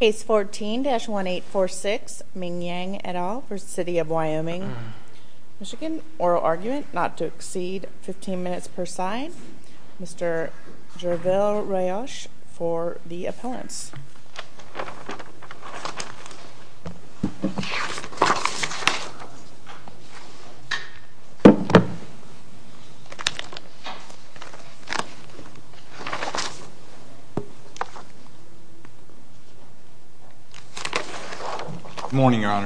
Case 14-1846 Ming Yang et al. v. City of Wyoming, Michigan Oral argument not to exceed 15 minutes per sign Mr. Gerville Rayoche for the appellants Mr.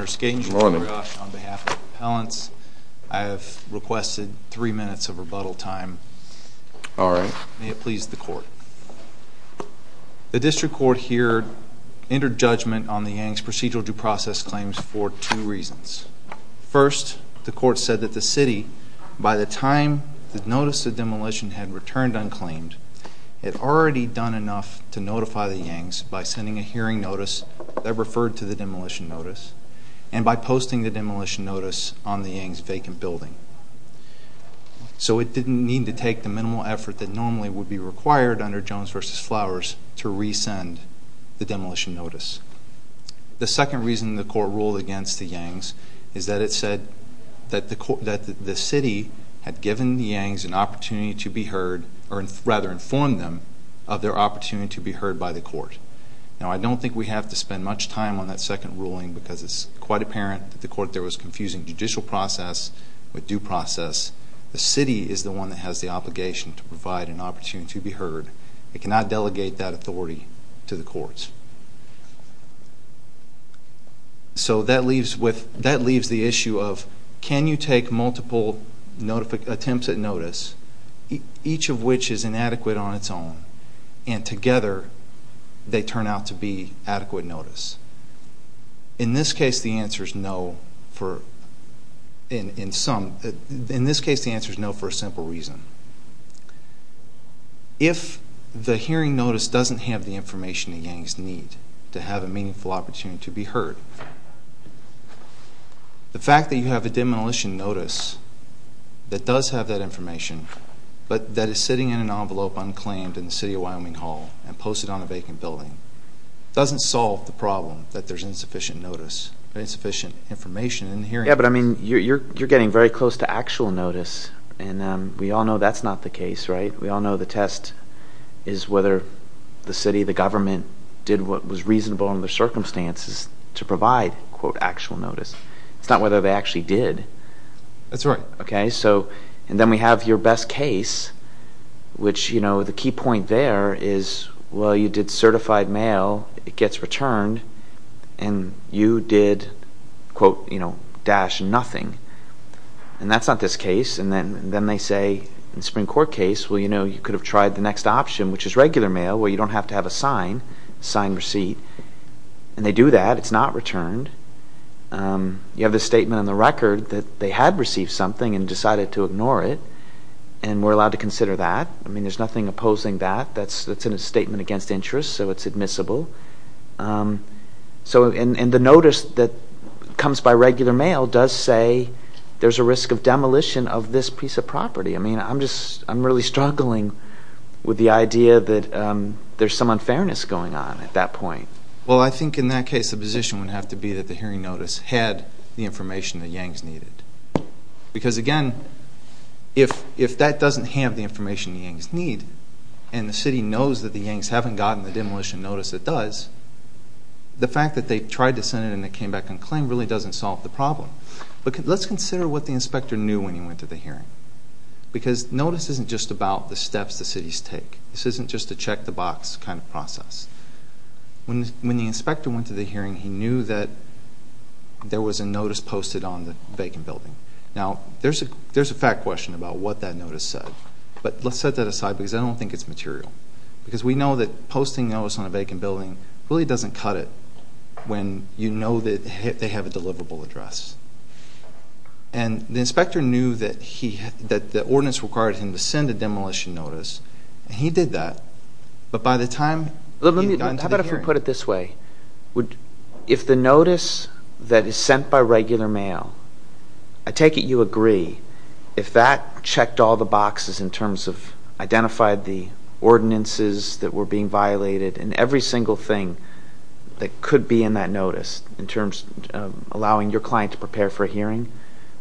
Gerville Rayoche on behalf of the appellants, I have requested three minutes of rebuttal time. May it please the court. The district court here entered judgment on the Yang's procedural due process claims for two reasons. First, the court said that the City, by the time the notice of demolition had returned unclaimed, had already done enough to notify the Yangs by sending a hearing notice that referred to the demolition notice and by posting the demolition notice on the Yang's vacant building. So it didn't need to take the minimal effort that normally would be required under Jones v. Flowers to resend the demolition notice. The second reason the court ruled against the Yangs is that it said that the City had given the Yangs an opportunity to be heard, or rather informed them of their opportunity to be heard by the court. Now I don't think we have to spend much time on that second ruling because it's quite apparent that the court there was confusing judicial process with due process. The City is the one that has the obligation to provide an opportunity to be heard. It cannot delegate that authority to the courts. So that leaves the issue of can you take multiple attempts at notice, each of which is inadequate on its own, and together they turn out to be adequate notice. In this case the answer is no for a simple reason. If the hearing notice doesn't have the information the Yangs need to have a meaningful opportunity to be heard, the fact that you have a demolition notice that does have that information, but that is sitting in an envelope unclaimed in the City of Wyoming Hall and posted on a vacant building, doesn't solve the problem that there's insufficient notice, insufficient information in the hearing notice. Yeah, but I mean you're getting very close to actual notice, and we all know that's not the case, right? We all know the test is whether the City, the government, did what was reasonable in their circumstances to provide, quote, actual notice. It's not whether they actually did. That's right. Okay, so, and then we have your best case, which, you know, the key point there is, well, you did certified mail. It gets returned, and you did, quote, you know, dash nothing. And that's not this case. And then they say in the Supreme Court case, well, you know, you could have tried the next option, which is regular mail, where you don't have to have a sign, a signed receipt. And they do that. It's not returned. You have this statement in the record that they had received something and decided to ignore it, and we're allowed to consider that. I mean there's nothing opposing that. That's in a statement against interest, so it's admissible. So, and the notice that comes by regular mail does say there's a risk of demolition of this piece of property. I mean, I'm just, I'm really struggling with the idea that there's some unfairness going on at that point. Well, I think in that case the position would have to be that the hearing notice had the information that Yangs needed. Because, again, if that doesn't have the information that Yangs need, and the city knows that the Yangs haven't gotten the demolition notice that does, the fact that they tried to send it and it came back unclaimed really doesn't solve the problem. But let's consider what the inspector knew when he went to the hearing. Because notice isn't just about the steps the cities take. This isn't just a check the box kind of process. When the inspector went to the hearing, he knew that there was a notice posted on the vacant building. Now, there's a fact question about what that notice said. But let's set that aside because I don't think it's material. Because we know that posting a notice on a vacant building really doesn't cut it when you know that they have a deliverable address. And the inspector knew that the ordinance required him to send a demolition notice. And he did that. But by the time he got into the hearing... How about if we put it this way? If the notice that is sent by regular mail, I take it you agree, if that checked all the boxes in terms of identified the ordinances that were being violated and every single thing that could be in that notice in terms of allowing your client to prepare for a hearing,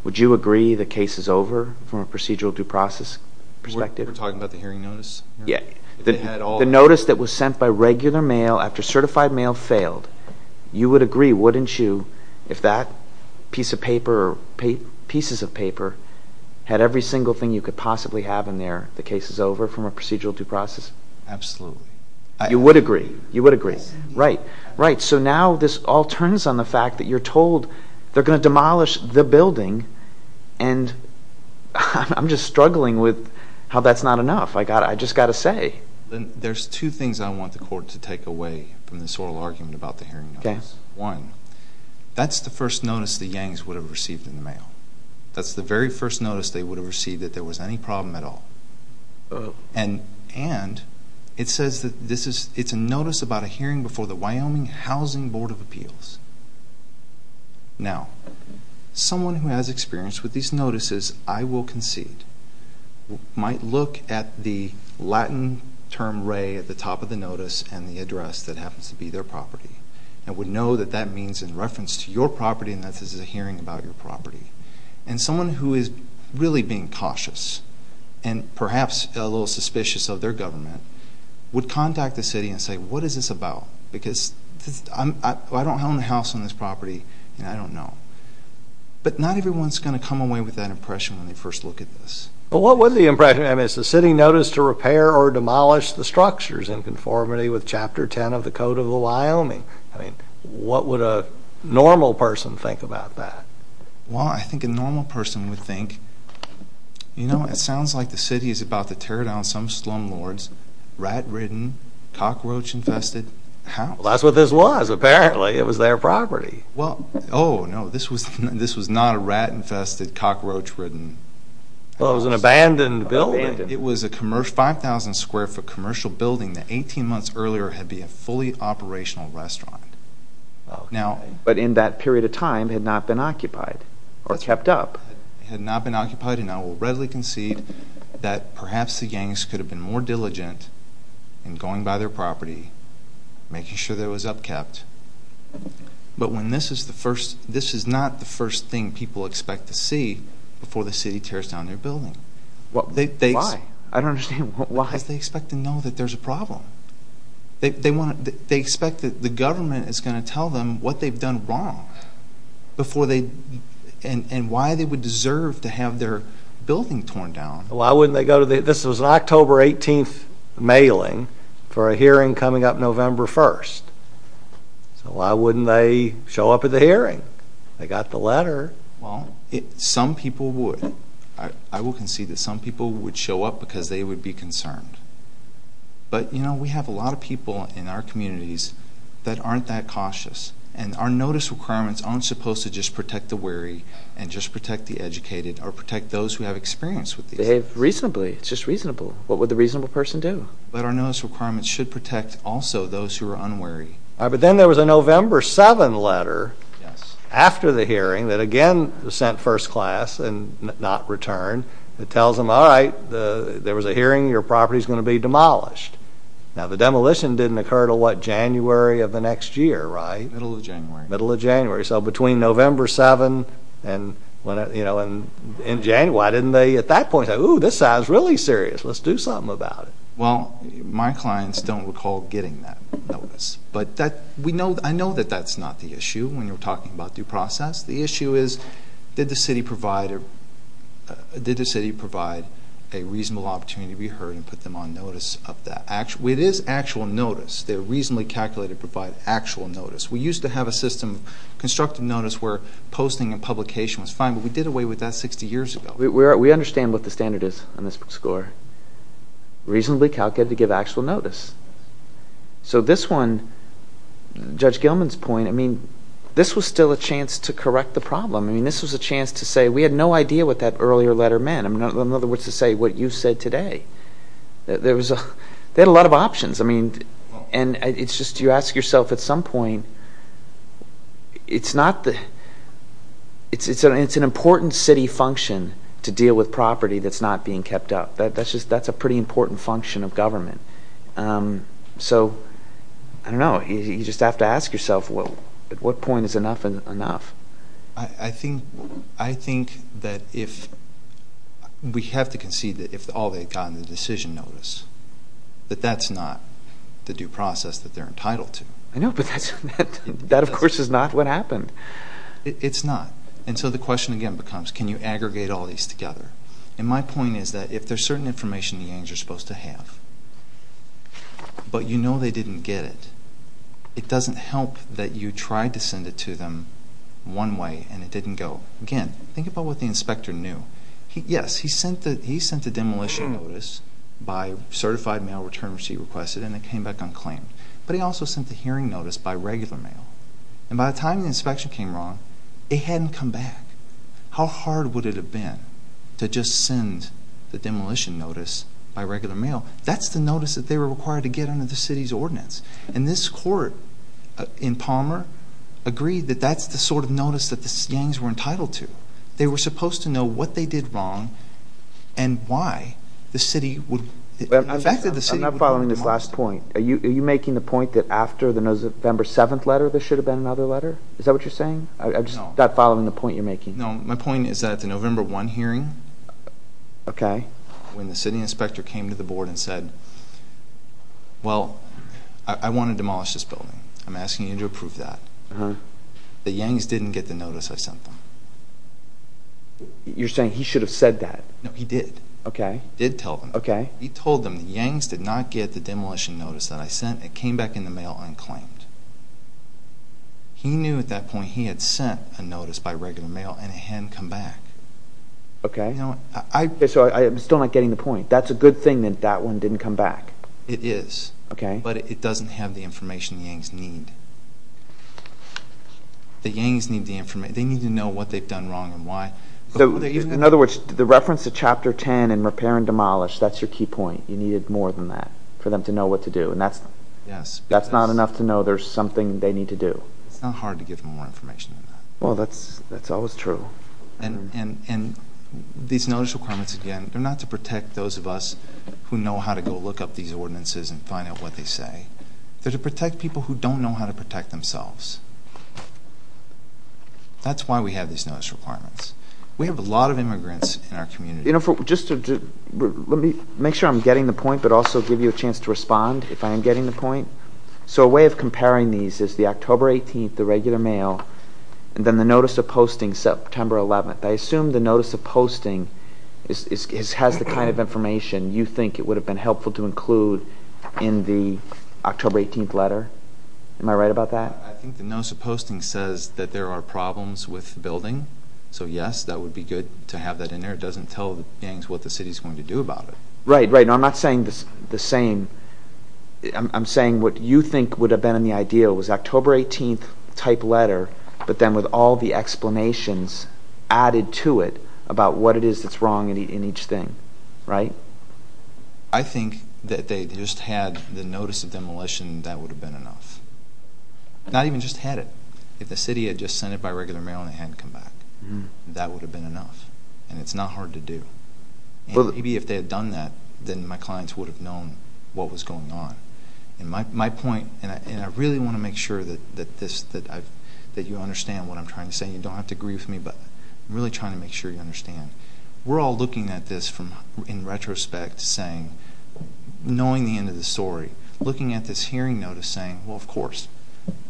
would you agree the case is over from a procedural due process perspective? We're talking about the hearing notice? Yeah. The notice that was sent by regular mail after certified mail failed. You would agree, wouldn't you, if that piece of paper or pieces of paper had every single thing you could possibly have in there, the case is over from a procedural due process? Absolutely. You would agree. You would agree. Right. So now this all turns on the fact that you're told they're going to demolish the building. And I'm just struggling with how that's not enough. I just got to say. There's two things I want the court to take away from this oral argument about the hearing notice. Okay. One, that's the first notice the Yangs would have received in the mail. That's the very first notice they would have received that there was any problem at all. And it says that it's a notice about a hearing before the Wyoming Housing Board of Appeals. Now, someone who has experience with these notices, I will concede, might look at the Latin term re at the top of the notice and the address that happens to be their property and would know that that means in reference to your property and that this is a hearing about your property. And someone who is really being cautious and perhaps a little suspicious of their government would contact the city and say, What is this about? Because I don't own a house on this property and I don't know. But not everyone is going to come away with that impression when they first look at this. But what would the impression be? I mean, it's the city notice to repair or demolish the structures in conformity with Chapter 10 of the Code of the Wyoming. I mean, what would a normal person think about that? Well, I think a normal person would think, you know, it sounds like the city is about to tear down some slumlords, rat-ridden, cockroach-infested house. Well, that's what this was. Apparently, it was their property. Well, oh, no, this was not a rat-infested, cockroach-ridden house. Well, it was an abandoned building. It was a 5,000 square foot commercial building that 18 months earlier had been a fully operational restaurant. But in that period of time had not been occupied or kept up. Had not been occupied and I will readily concede that perhaps the gangs could have been more diligent in going by their property, making sure that it was upkept. But when this is the first, this is not the first thing people expect to see before the city tears down their building. Why? I don't understand why. Because they expect to know that there's a problem. They want to, they expect that the government is going to tell them what they've done wrong before they, and why they would deserve to have their building torn down. Why wouldn't they go to the, this was an October 18th mailing for a hearing coming up November 1st. So why wouldn't they show up at the hearing? They got the letter. Well, some people would. I will concede that some people would show up because they would be concerned. But, you know, we have a lot of people in our communities that aren't that cautious. And our notice requirements aren't supposed to just protect the weary and just protect the educated or protect those who have experience with these things. Behave reasonably. It's just reasonable. What would the reasonable person do? But our notice requirements should protect also those who are unwary. But then there was a November 7th letter after the hearing that again sent first class and not returned. It tells them, all right, there was a hearing. Your property is going to be demolished. Now, the demolition didn't occur until, what, January of the next year, right? Middle of January. Middle of January. So between November 7th and, you know, in January, why didn't they at that point say, ooh, this sounds really serious. Let's do something about it. Well, my clients don't recall getting that notice. But I know that that's not the issue when you're talking about due process. The issue is did the city provide a reasonable opportunity to be heard and put them on notice of that? It is actual notice. They're reasonably calculated to provide actual notice. We used to have a system of constructive notice where posting and publication was fine, but we did away with that 60 years ago. We understand what the standard is on this score. Reasonably calculated to give actual notice. So this one, Judge Gilman's point, I mean, this was still a chance to correct the problem. I mean, this was a chance to say we had no idea what that earlier letter meant. In other words, to say what you said today. There was a lot of options. I mean, and it's just you ask yourself at some point, it's an important city function to deal with property that's not being kept up. That's a pretty important function of government. So, I don't know. You just have to ask yourself at what point is enough enough. I think that if we have to concede that if all they've gotten is a decision notice, that that's not the due process that they're entitled to. I know, but that, of course, is not what happened. It's not. And so the question again becomes can you aggregate all these together? And my point is that if there's certain information the Yanks are supposed to have, but you know they didn't get it, it doesn't help that you tried to send it to them one way and it didn't go. Again, think about what the inspector knew. Yes, he sent the demolition notice by certified mail return receipt requested and it came back unclaimed. But he also sent the hearing notice by regular mail. And by the time the inspection came wrong, it hadn't come back. How hard would it have been to just send the demolition notice by regular mail? That's the notice that they were required to get under the city's ordinance. And this court in Palmer agreed that that's the sort of notice that the Yanks were entitled to. They were supposed to know what they did wrong and why the city would I'm not following this last point. Are you making the point that after the November 7th letter there should have been another letter? Is that what you're saying? I'm just not following the point you're making. No, my point is that at the November 1 hearing, when the city inspector came to the board and said, well, I want to demolish this building, I'm asking you to approve that, the Yanks didn't get the notice I sent them. You're saying he should have said that? No, he did. He did tell them. He told them the Yanks did not get the demolition notice that I sent. It came back in the mail unclaimed. He knew at that point he had sent a notice by regular mail and it hadn't come back. Okay. So I'm still not getting the point. That's a good thing that that one didn't come back. It is. Okay. But it doesn't have the information the Yanks need. The Yanks need the information. They need to know what they've done wrong and why. In other words, the reference to Chapter 10 and repair and demolish, that's your key point. You needed more than that for them to know what to do. That's not enough to know there's something they need to do. It's not hard to give them more information than that. Well, that's always true. And these notice requirements, again, they're not to protect those of us who know how to go look up these ordinances and find out what they say. They're to protect people who don't know how to protect themselves. That's why we have these notice requirements. We have a lot of immigrants in our community. Let me make sure I'm getting the point but also give you a chance to respond if I am getting the point. So a way of comparing these is the October 18th, the regular mail, and then the notice of posting September 11th. I assume the notice of posting has the kind of information you think it would have been helpful to include in the October 18th letter. Am I right about that? I think the notice of posting says that there are problems with the building. So, yes, that would be good to have that in there. It doesn't tell the gangs what the city is going to do about it. Right, right. Now, I'm not saying the same. I'm saying what you think would have been in the ideal was October 18th type letter, but then with all the explanations added to it about what it is that's wrong in each thing, right? I think that if they just had the notice of demolition, that would have been enough. Not even just had it. If the city had just sent it by regular mail and they hadn't come back, that would have been enough. And it's not hard to do. And maybe if they had done that, then my clients would have known what was going on. And my point, and I really want to make sure that you understand what I'm trying to say, and you don't have to agree with me, but I'm really trying to make sure you understand. We're all looking at this in retrospect, knowing the end of the story, looking at this hearing notice saying, well, of course,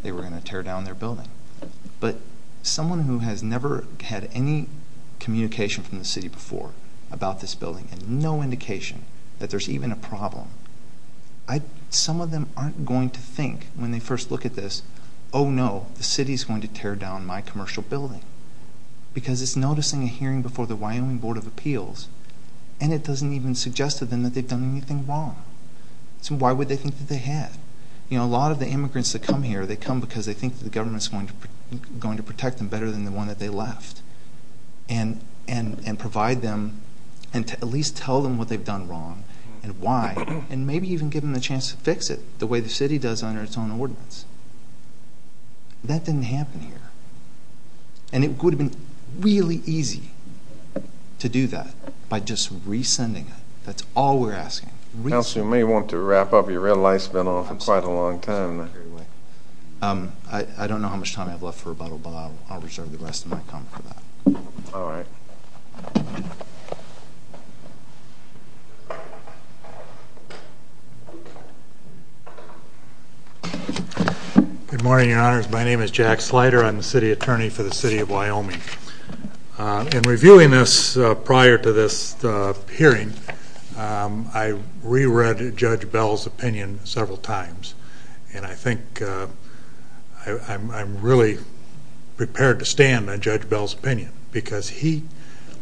they were going to tear down their building. But someone who has never had any communication from the city before about this building and no indication that there's even a problem, some of them aren't going to think when they first look at this, oh, no, the city's going to tear down my commercial building because it's noticing a hearing before the Wyoming Board of Appeals and it doesn't even suggest to them that they've done anything wrong. So why would they think that they have? You know, a lot of the immigrants that come here, they come because they think the government's going to protect them better than the one that they left and provide them and at least tell them what they've done wrong and why, and maybe even give them a chance to fix it the way the city does under its own ordinance. That didn't happen here. And it would have been really easy to do that by just resending it. That's all we're asking. Counsel, you may want to wrap up. Your red light's been on for quite a long time. I don't know how much time I have left for rebuttal, but I'll reserve the rest of my time for that. All right. Good morning, Your Honors. My name is Jack Slider. I'm the city attorney for the city of Wyoming. In reviewing this prior to this hearing, I reread Judge Bell's opinion several times, and I think I'm really prepared to stand on Judge Bell's opinion because he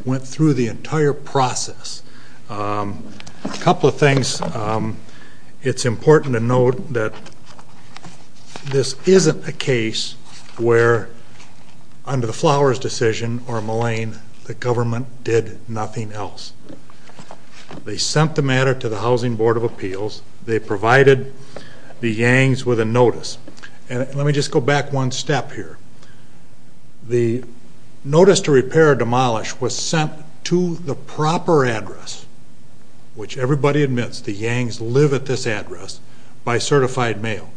went through the entire process. A couple of things. It's important to note that this isn't a case where, under the Flowers decision or Mullane, the government did nothing else. They sent the matter to the Housing Board of Appeals. They provided the Yangs with a notice. And let me just go back one step here. The notice to repair or demolish was sent to the proper address, which everybody admits the Yangs live at this address, by certified mail.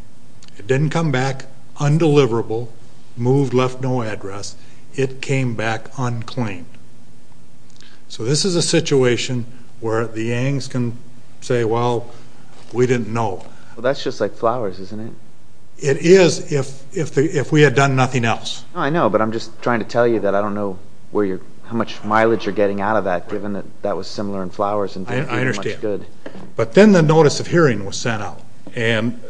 It didn't come back undeliverable, moved, left no address. It came back unclaimed. So this is a situation where the Yangs can say, well, we didn't know. Well, that's just like Flowers, isn't it? It is if we had done nothing else. I know, but I'm just trying to tell you that I don't know how much mileage you're getting out of that, given that that was similar in Flowers and didn't do much good. I understand. But then the notice of hearing was sent out. And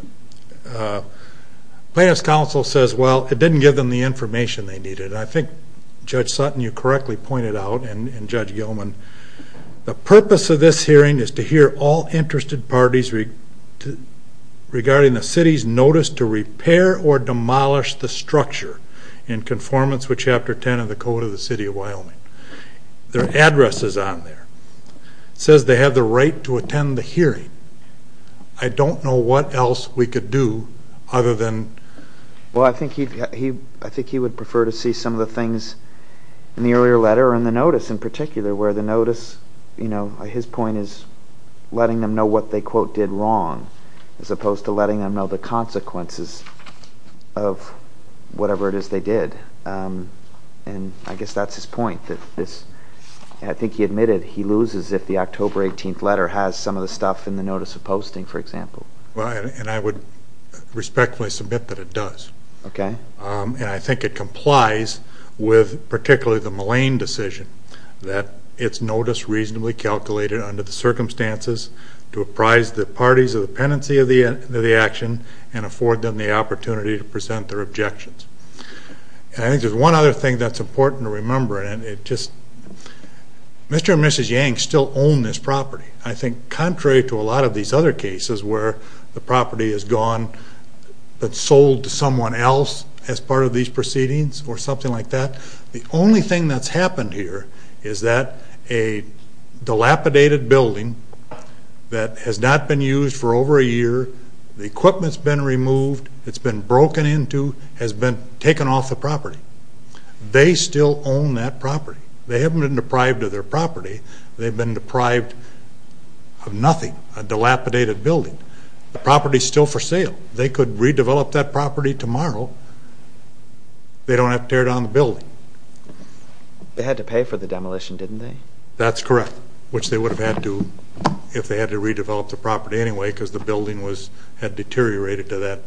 Plaintiff's Counsel says, well, it didn't give them the information they needed. And I think Judge Sutton, you correctly pointed out, and Judge Gilman, the purpose of this hearing is to hear all interested parties regarding the city's notice to repair or demolish the structure. In conformance with Chapter 10 of the Code of the City of Wyoming. Their address is on there. It says they have the right to attend the hearing. I don't know what else we could do other than... Well, I think he would prefer to see some of the things in the earlier letter or in the notice in particular, where the notice, you know, his point is letting them know what they, quote, did wrong, as opposed to letting them know the consequences of whatever it is they did. And I guess that's his point, that this... And I think he admitted he loses if the October 18th letter has some of the stuff in the notice of posting, for example. Well, and I would respectfully submit that it does. Okay. And I think it complies with particularly the Mullane decision that its notice reasonably calculated under the circumstances to apprise the parties of the pendency of the action and afford them the opportunity to present their objections. And I think there's one other thing that's important to remember, and it just... Mr. and Mrs. Yang still own this property. I think contrary to a lot of these other cases where the property is gone but sold to someone else as part of these proceedings or something like that, the only thing that's happened here is that a dilapidated building that has not been used for over a year, the equipment's been removed, it's been broken into, has been taken off the property. They still own that property. They haven't been deprived of their property. They've been deprived of nothing, a dilapidated building. The property's still for sale. They could redevelop that property tomorrow. They don't have to tear down the building. They had to pay for the demolition, didn't they? That's correct, which they would have had to if they had to redevelop the property anyway because the building had deteriorated to that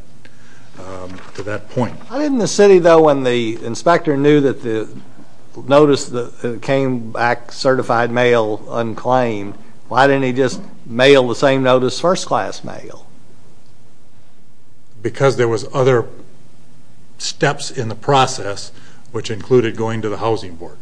point. Why didn't the city, though, when the inspector knew that the notice came back certified mail unclaimed, why didn't he just mail the same notice first-class mail? Because there was other steps in the process which included going to the housing board.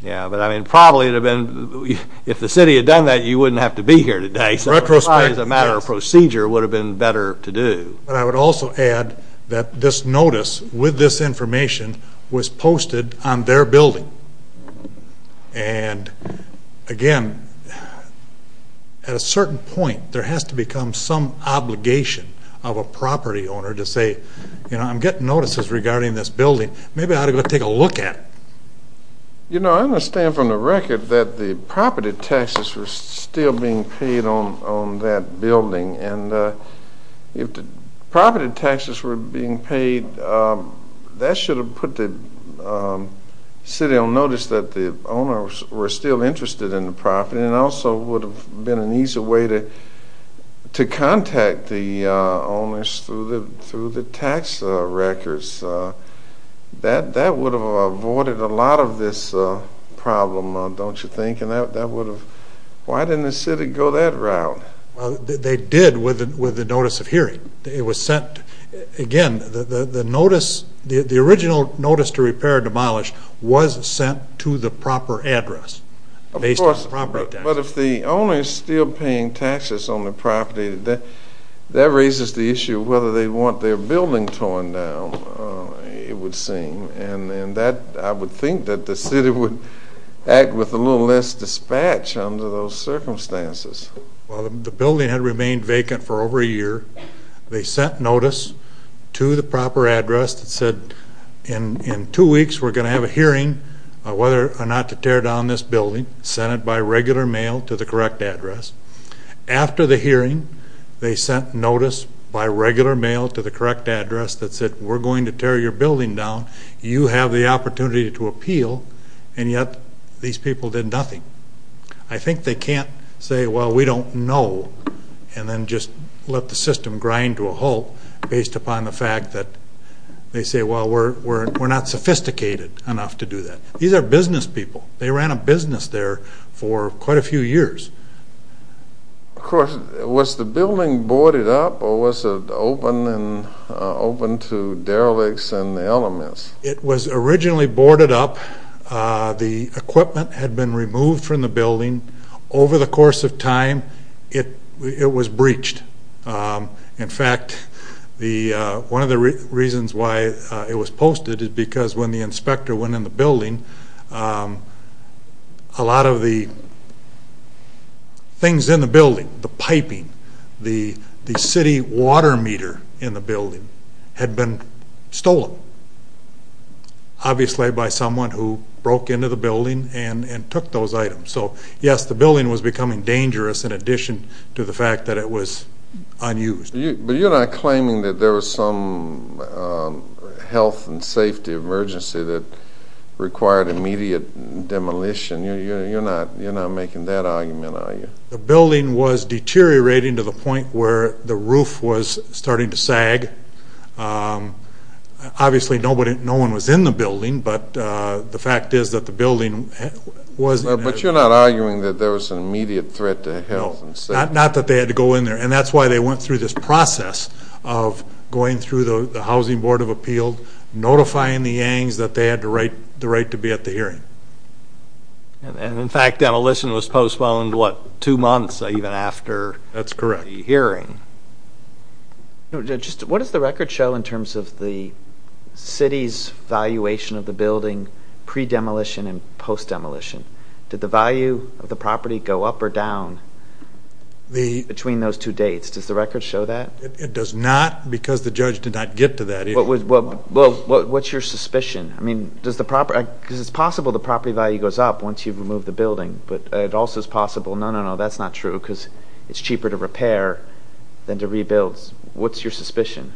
Yeah, but, I mean, probably it would have been, if the city had done that, you wouldn't have to be here today. Retrospectively, yes. So a matter of procedure would have been better to do. But I would also add that this notice with this information was posted on their building. And, again, at a certain point, there has to become some obligation of a property owner to say, you know, I'm getting notices regarding this building. Maybe I ought to go take a look at it. You know, I understand from the record that the property taxes were still being paid on that building. And if the property taxes were being paid, that should have put the city on notice that the owners were still interested in the property and also would have been an easy way to contact the owners through the tax records. That would have avoided a lot of this problem, don't you think? And that would have, why didn't the city go that route? Well, they did with the notice of hearing. It was sent, again, the notice, the original notice to repair and demolish was sent to the proper address based on property taxes. But if the owner is still paying taxes on the property, that raises the issue of whether they want their building torn down, it would seem. And I would think that the city would act with a little less dispatch under those circumstances. Well, the building had remained vacant for over a year. They sent notice to the proper address that said, in two weeks we're going to have a hearing on whether or not to tear down this building. Sent it by regular mail to the correct address. After the hearing, they sent notice by regular mail to the correct address that said, we're going to tear your building down. You have the opportunity to appeal, and yet these people did nothing. I think they can't say, well, we don't know, and then just let the system grind to a halt based upon the fact that they say, well, we're not sophisticated enough to do that. These are business people. They ran a business there for quite a few years. Of course, was the building boarded up or was it open to derelicts and the elements? It was originally boarded up. The equipment had been removed from the building. Over the course of time, it was breached. In fact, one of the reasons why it was posted is because when the inspector went in the building, a lot of the things in the building, the piping, the city water meter in the building, had been stolen, obviously by someone who broke into the building and took those items. So, yes, the building was becoming dangerous in addition to the fact that it was unused. But you're not claiming that there was some health and safety emergency that required immediate demolition. You're not making that argument, are you? The building was deteriorating to the point where the roof was starting to sag. Obviously, no one was in the building, but the fact is that the building was... But you're not arguing that there was an immediate threat to health and safety? No, not that they had to go in there. And that's why they went through this process of going through the Housing Board of Appeal, notifying the Yangs that they had the right to be at the hearing. And, in fact, demolition was postponed, what, two months even after the hearing? That's correct. What does the record show in terms of the city's valuation of the building pre-demolition and post-demolition? Did the value of the property go up or down between those two dates? Does the record show that? It does not because the judge did not get to that issue. What's your suspicion? I mean, does the property... Because it's possible the property value goes up once you've removed the building, but it also is possible... No, no, no, that's not true because it's cheaper to repair than to rebuild. What's your suspicion?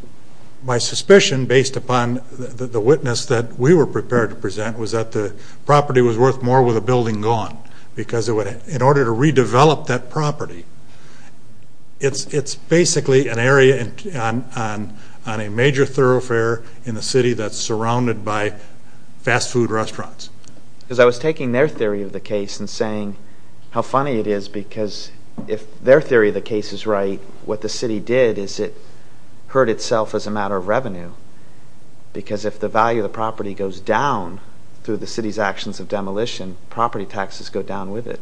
My suspicion, based upon the witness that we were prepared to present, was that the property was worth more with the building gone because in order to redevelop that property, it's basically an area on a major thoroughfare in the city that's surrounded by fast food restaurants. Because I was taking their theory of the case and saying how funny it is because if their theory of the case is right, what the city did is it hurt itself as a matter of revenue because if the value of the property goes down through the city's actions of demolition, property taxes go down with it,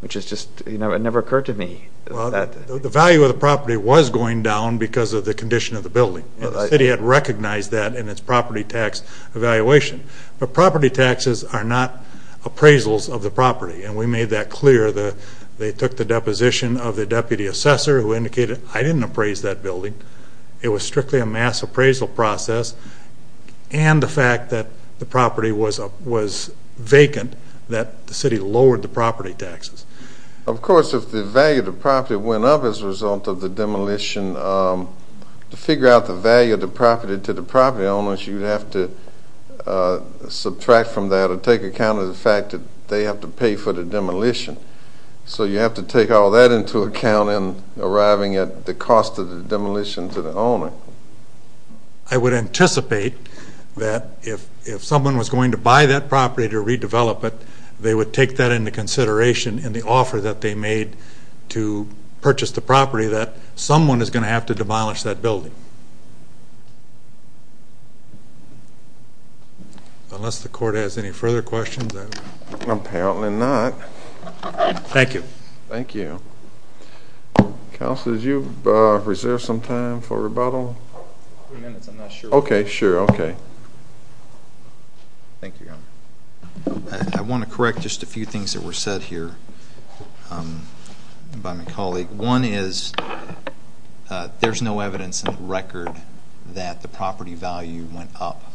which has just never occurred to me. The value of the property was going down because of the condition of the building. The city had recognized that in its property tax evaluation. But property taxes are not appraisals of the property, and we made that clear. They took the deposition of the deputy assessor who indicated, I didn't appraise that building. It was strictly a mass appraisal process. And the fact that the property was vacant, that the city lowered the property taxes. Of course, if the value of the property went up as a result of the demolition, to figure out the value of the property to the property owners, you'd have to subtract from that you'd have to take account of the fact that they have to pay for the demolition. So you have to take all that into account in arriving at the cost of the demolition to the owner. I would anticipate that if someone was going to buy that property to redevelop it, they would take that into consideration in the offer that they made to purchase the property, that someone is going to have to demolish that building. Thank you. Unless the court has any further questions. Apparently not. Thank you. Thank you. Counsel, did you reserve some time for rebuttal? A few minutes. I'm not sure. Okay. Sure. Okay. Thank you, Your Honor. I want to correct just a few things that were said here by my colleague. One is there's no evidence in the record that the property value went up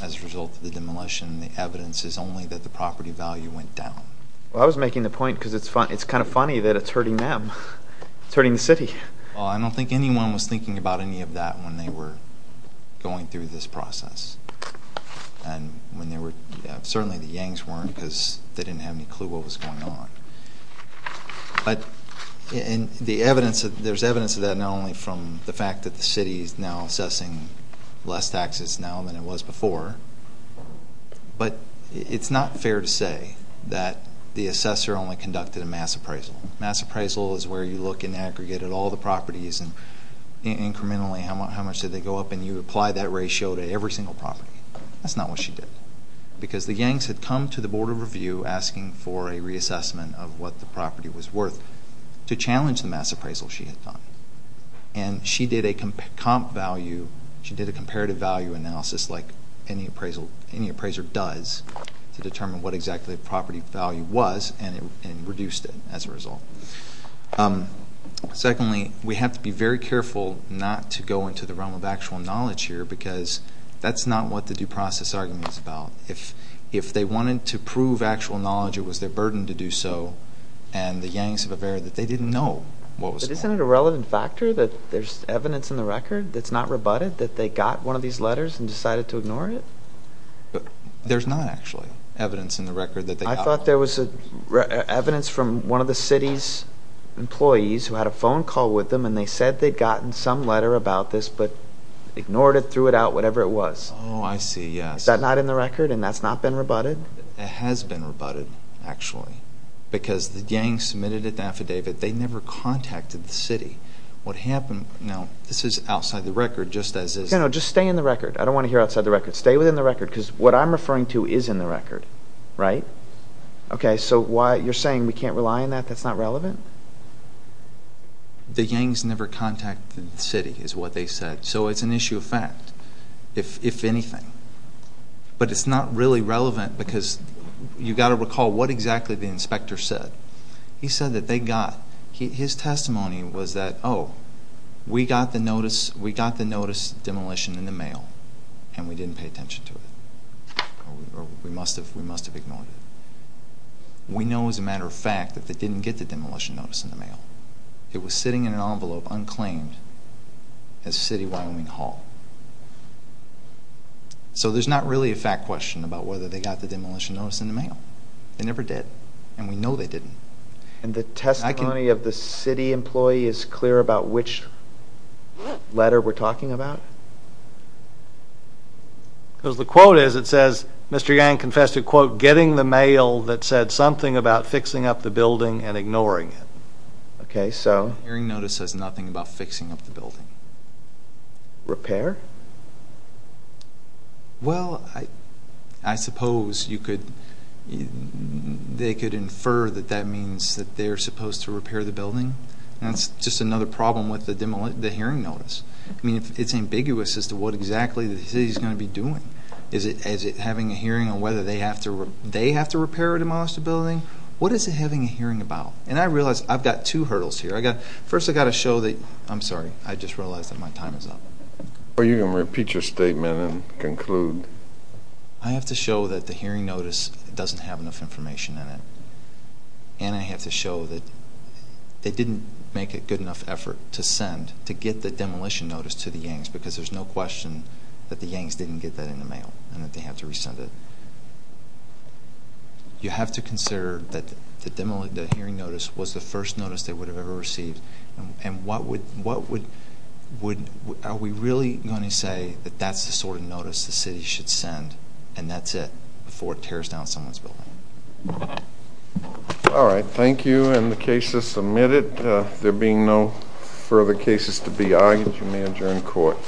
as a result of the demolition. The evidence is only that the property value went down. I was making the point because it's kind of funny that it's hurting them. It's hurting the city. I don't think anyone was thinking about any of that when they were going through this process. Certainly the Yangs weren't because they didn't have any clue what was going on. But there's evidence of that, not only from the fact that the city is now assessing less taxes now than it was before, but it's not fair to say that the assessor only conducted a mass appraisal. Mass appraisal is where you look and aggregate at all the properties and incrementally how much did they go up, and you apply that ratio to every single property. That's not what she did. Because the Yangs had come to the Board of Review asking for a reassessment of what the property was worth to challenge the mass appraisal she had done. And she did a comparative value analysis like any appraiser does to determine what exactly the property value was and reduced it as a result. Secondly, we have to be very careful not to go into the realm of actual knowledge here because that's not what the due process argument is about. If they wanted to prove actual knowledge, it was their burden to do so, and the Yangs have a verity that they didn't know what was going on. But isn't it a relevant factor that there's evidence in the record that's not rebutted that they got one of these letters and decided to ignore it? There's not actually evidence in the record that they got one. I thought there was evidence from one of the city's employees who had a phone call with them and they said they'd gotten some letter about this but ignored it, threw it out, whatever it was. Oh, I see, yes. Is that not in the record and that's not been rebutted? It has been rebutted, actually, because the Yangs submitted an affidavit. They never contacted the city. What happened, now, this is outside the record just as is. No, just stay in the record. I don't want to hear outside the record. Stay within the record because what I'm referring to is in the record, right? Okay, so you're saying we can't rely on that? That's not relevant? The Yangs never contacted the city is what they said, so it's an issue of fact, if anything. But it's not really relevant because you've got to recall what exactly the inspector said. He said that they got, his testimony was that, oh, we got the notice of demolition in the mail and we didn't pay attention to it or we must have ignored it. We know as a matter of fact that they didn't get the demolition notice in the mail. It was sitting in an envelope unclaimed at City of Wyoming Hall. So there's not really a fact question about whether they got the demolition notice in the mail. They never did, and we know they didn't. And the testimony of the city employee is clear about which letter we're talking about? Because the quote is, it says, Mr. Yang confessed to, quote, getting the mail that said something about fixing up the building and ignoring it. Okay, so? The hearing notice says nothing about fixing up the building. Repair? Well, I suppose you could, they could infer that that means that they're supposed to repair the building. That's just another problem with the hearing notice. I mean, it's ambiguous as to what exactly the city is going to be doing. Is it having a hearing on whether they have to repair or demolish the building? What is it having a hearing about? And I realize I've got two hurdles here. First, I've got to show that, I'm sorry, I just realized that my time is up. Are you going to repeat your statement and conclude? I have to show that the hearing notice doesn't have enough information in it, and I have to show that they didn't make a good enough effort to send, to get the demolition notice to the Yangs, because there's no question that the Yangs didn't get that in the mail and that they have to resend it. You have to consider that the hearing notice was the first notice they would have ever received, and what would, are we really going to say that that's the sort of notice the city should send, and that's it before it tears down someone's building. All right. Thank you, and the case is submitted. There being no further cases to be argued, you may adjourn court.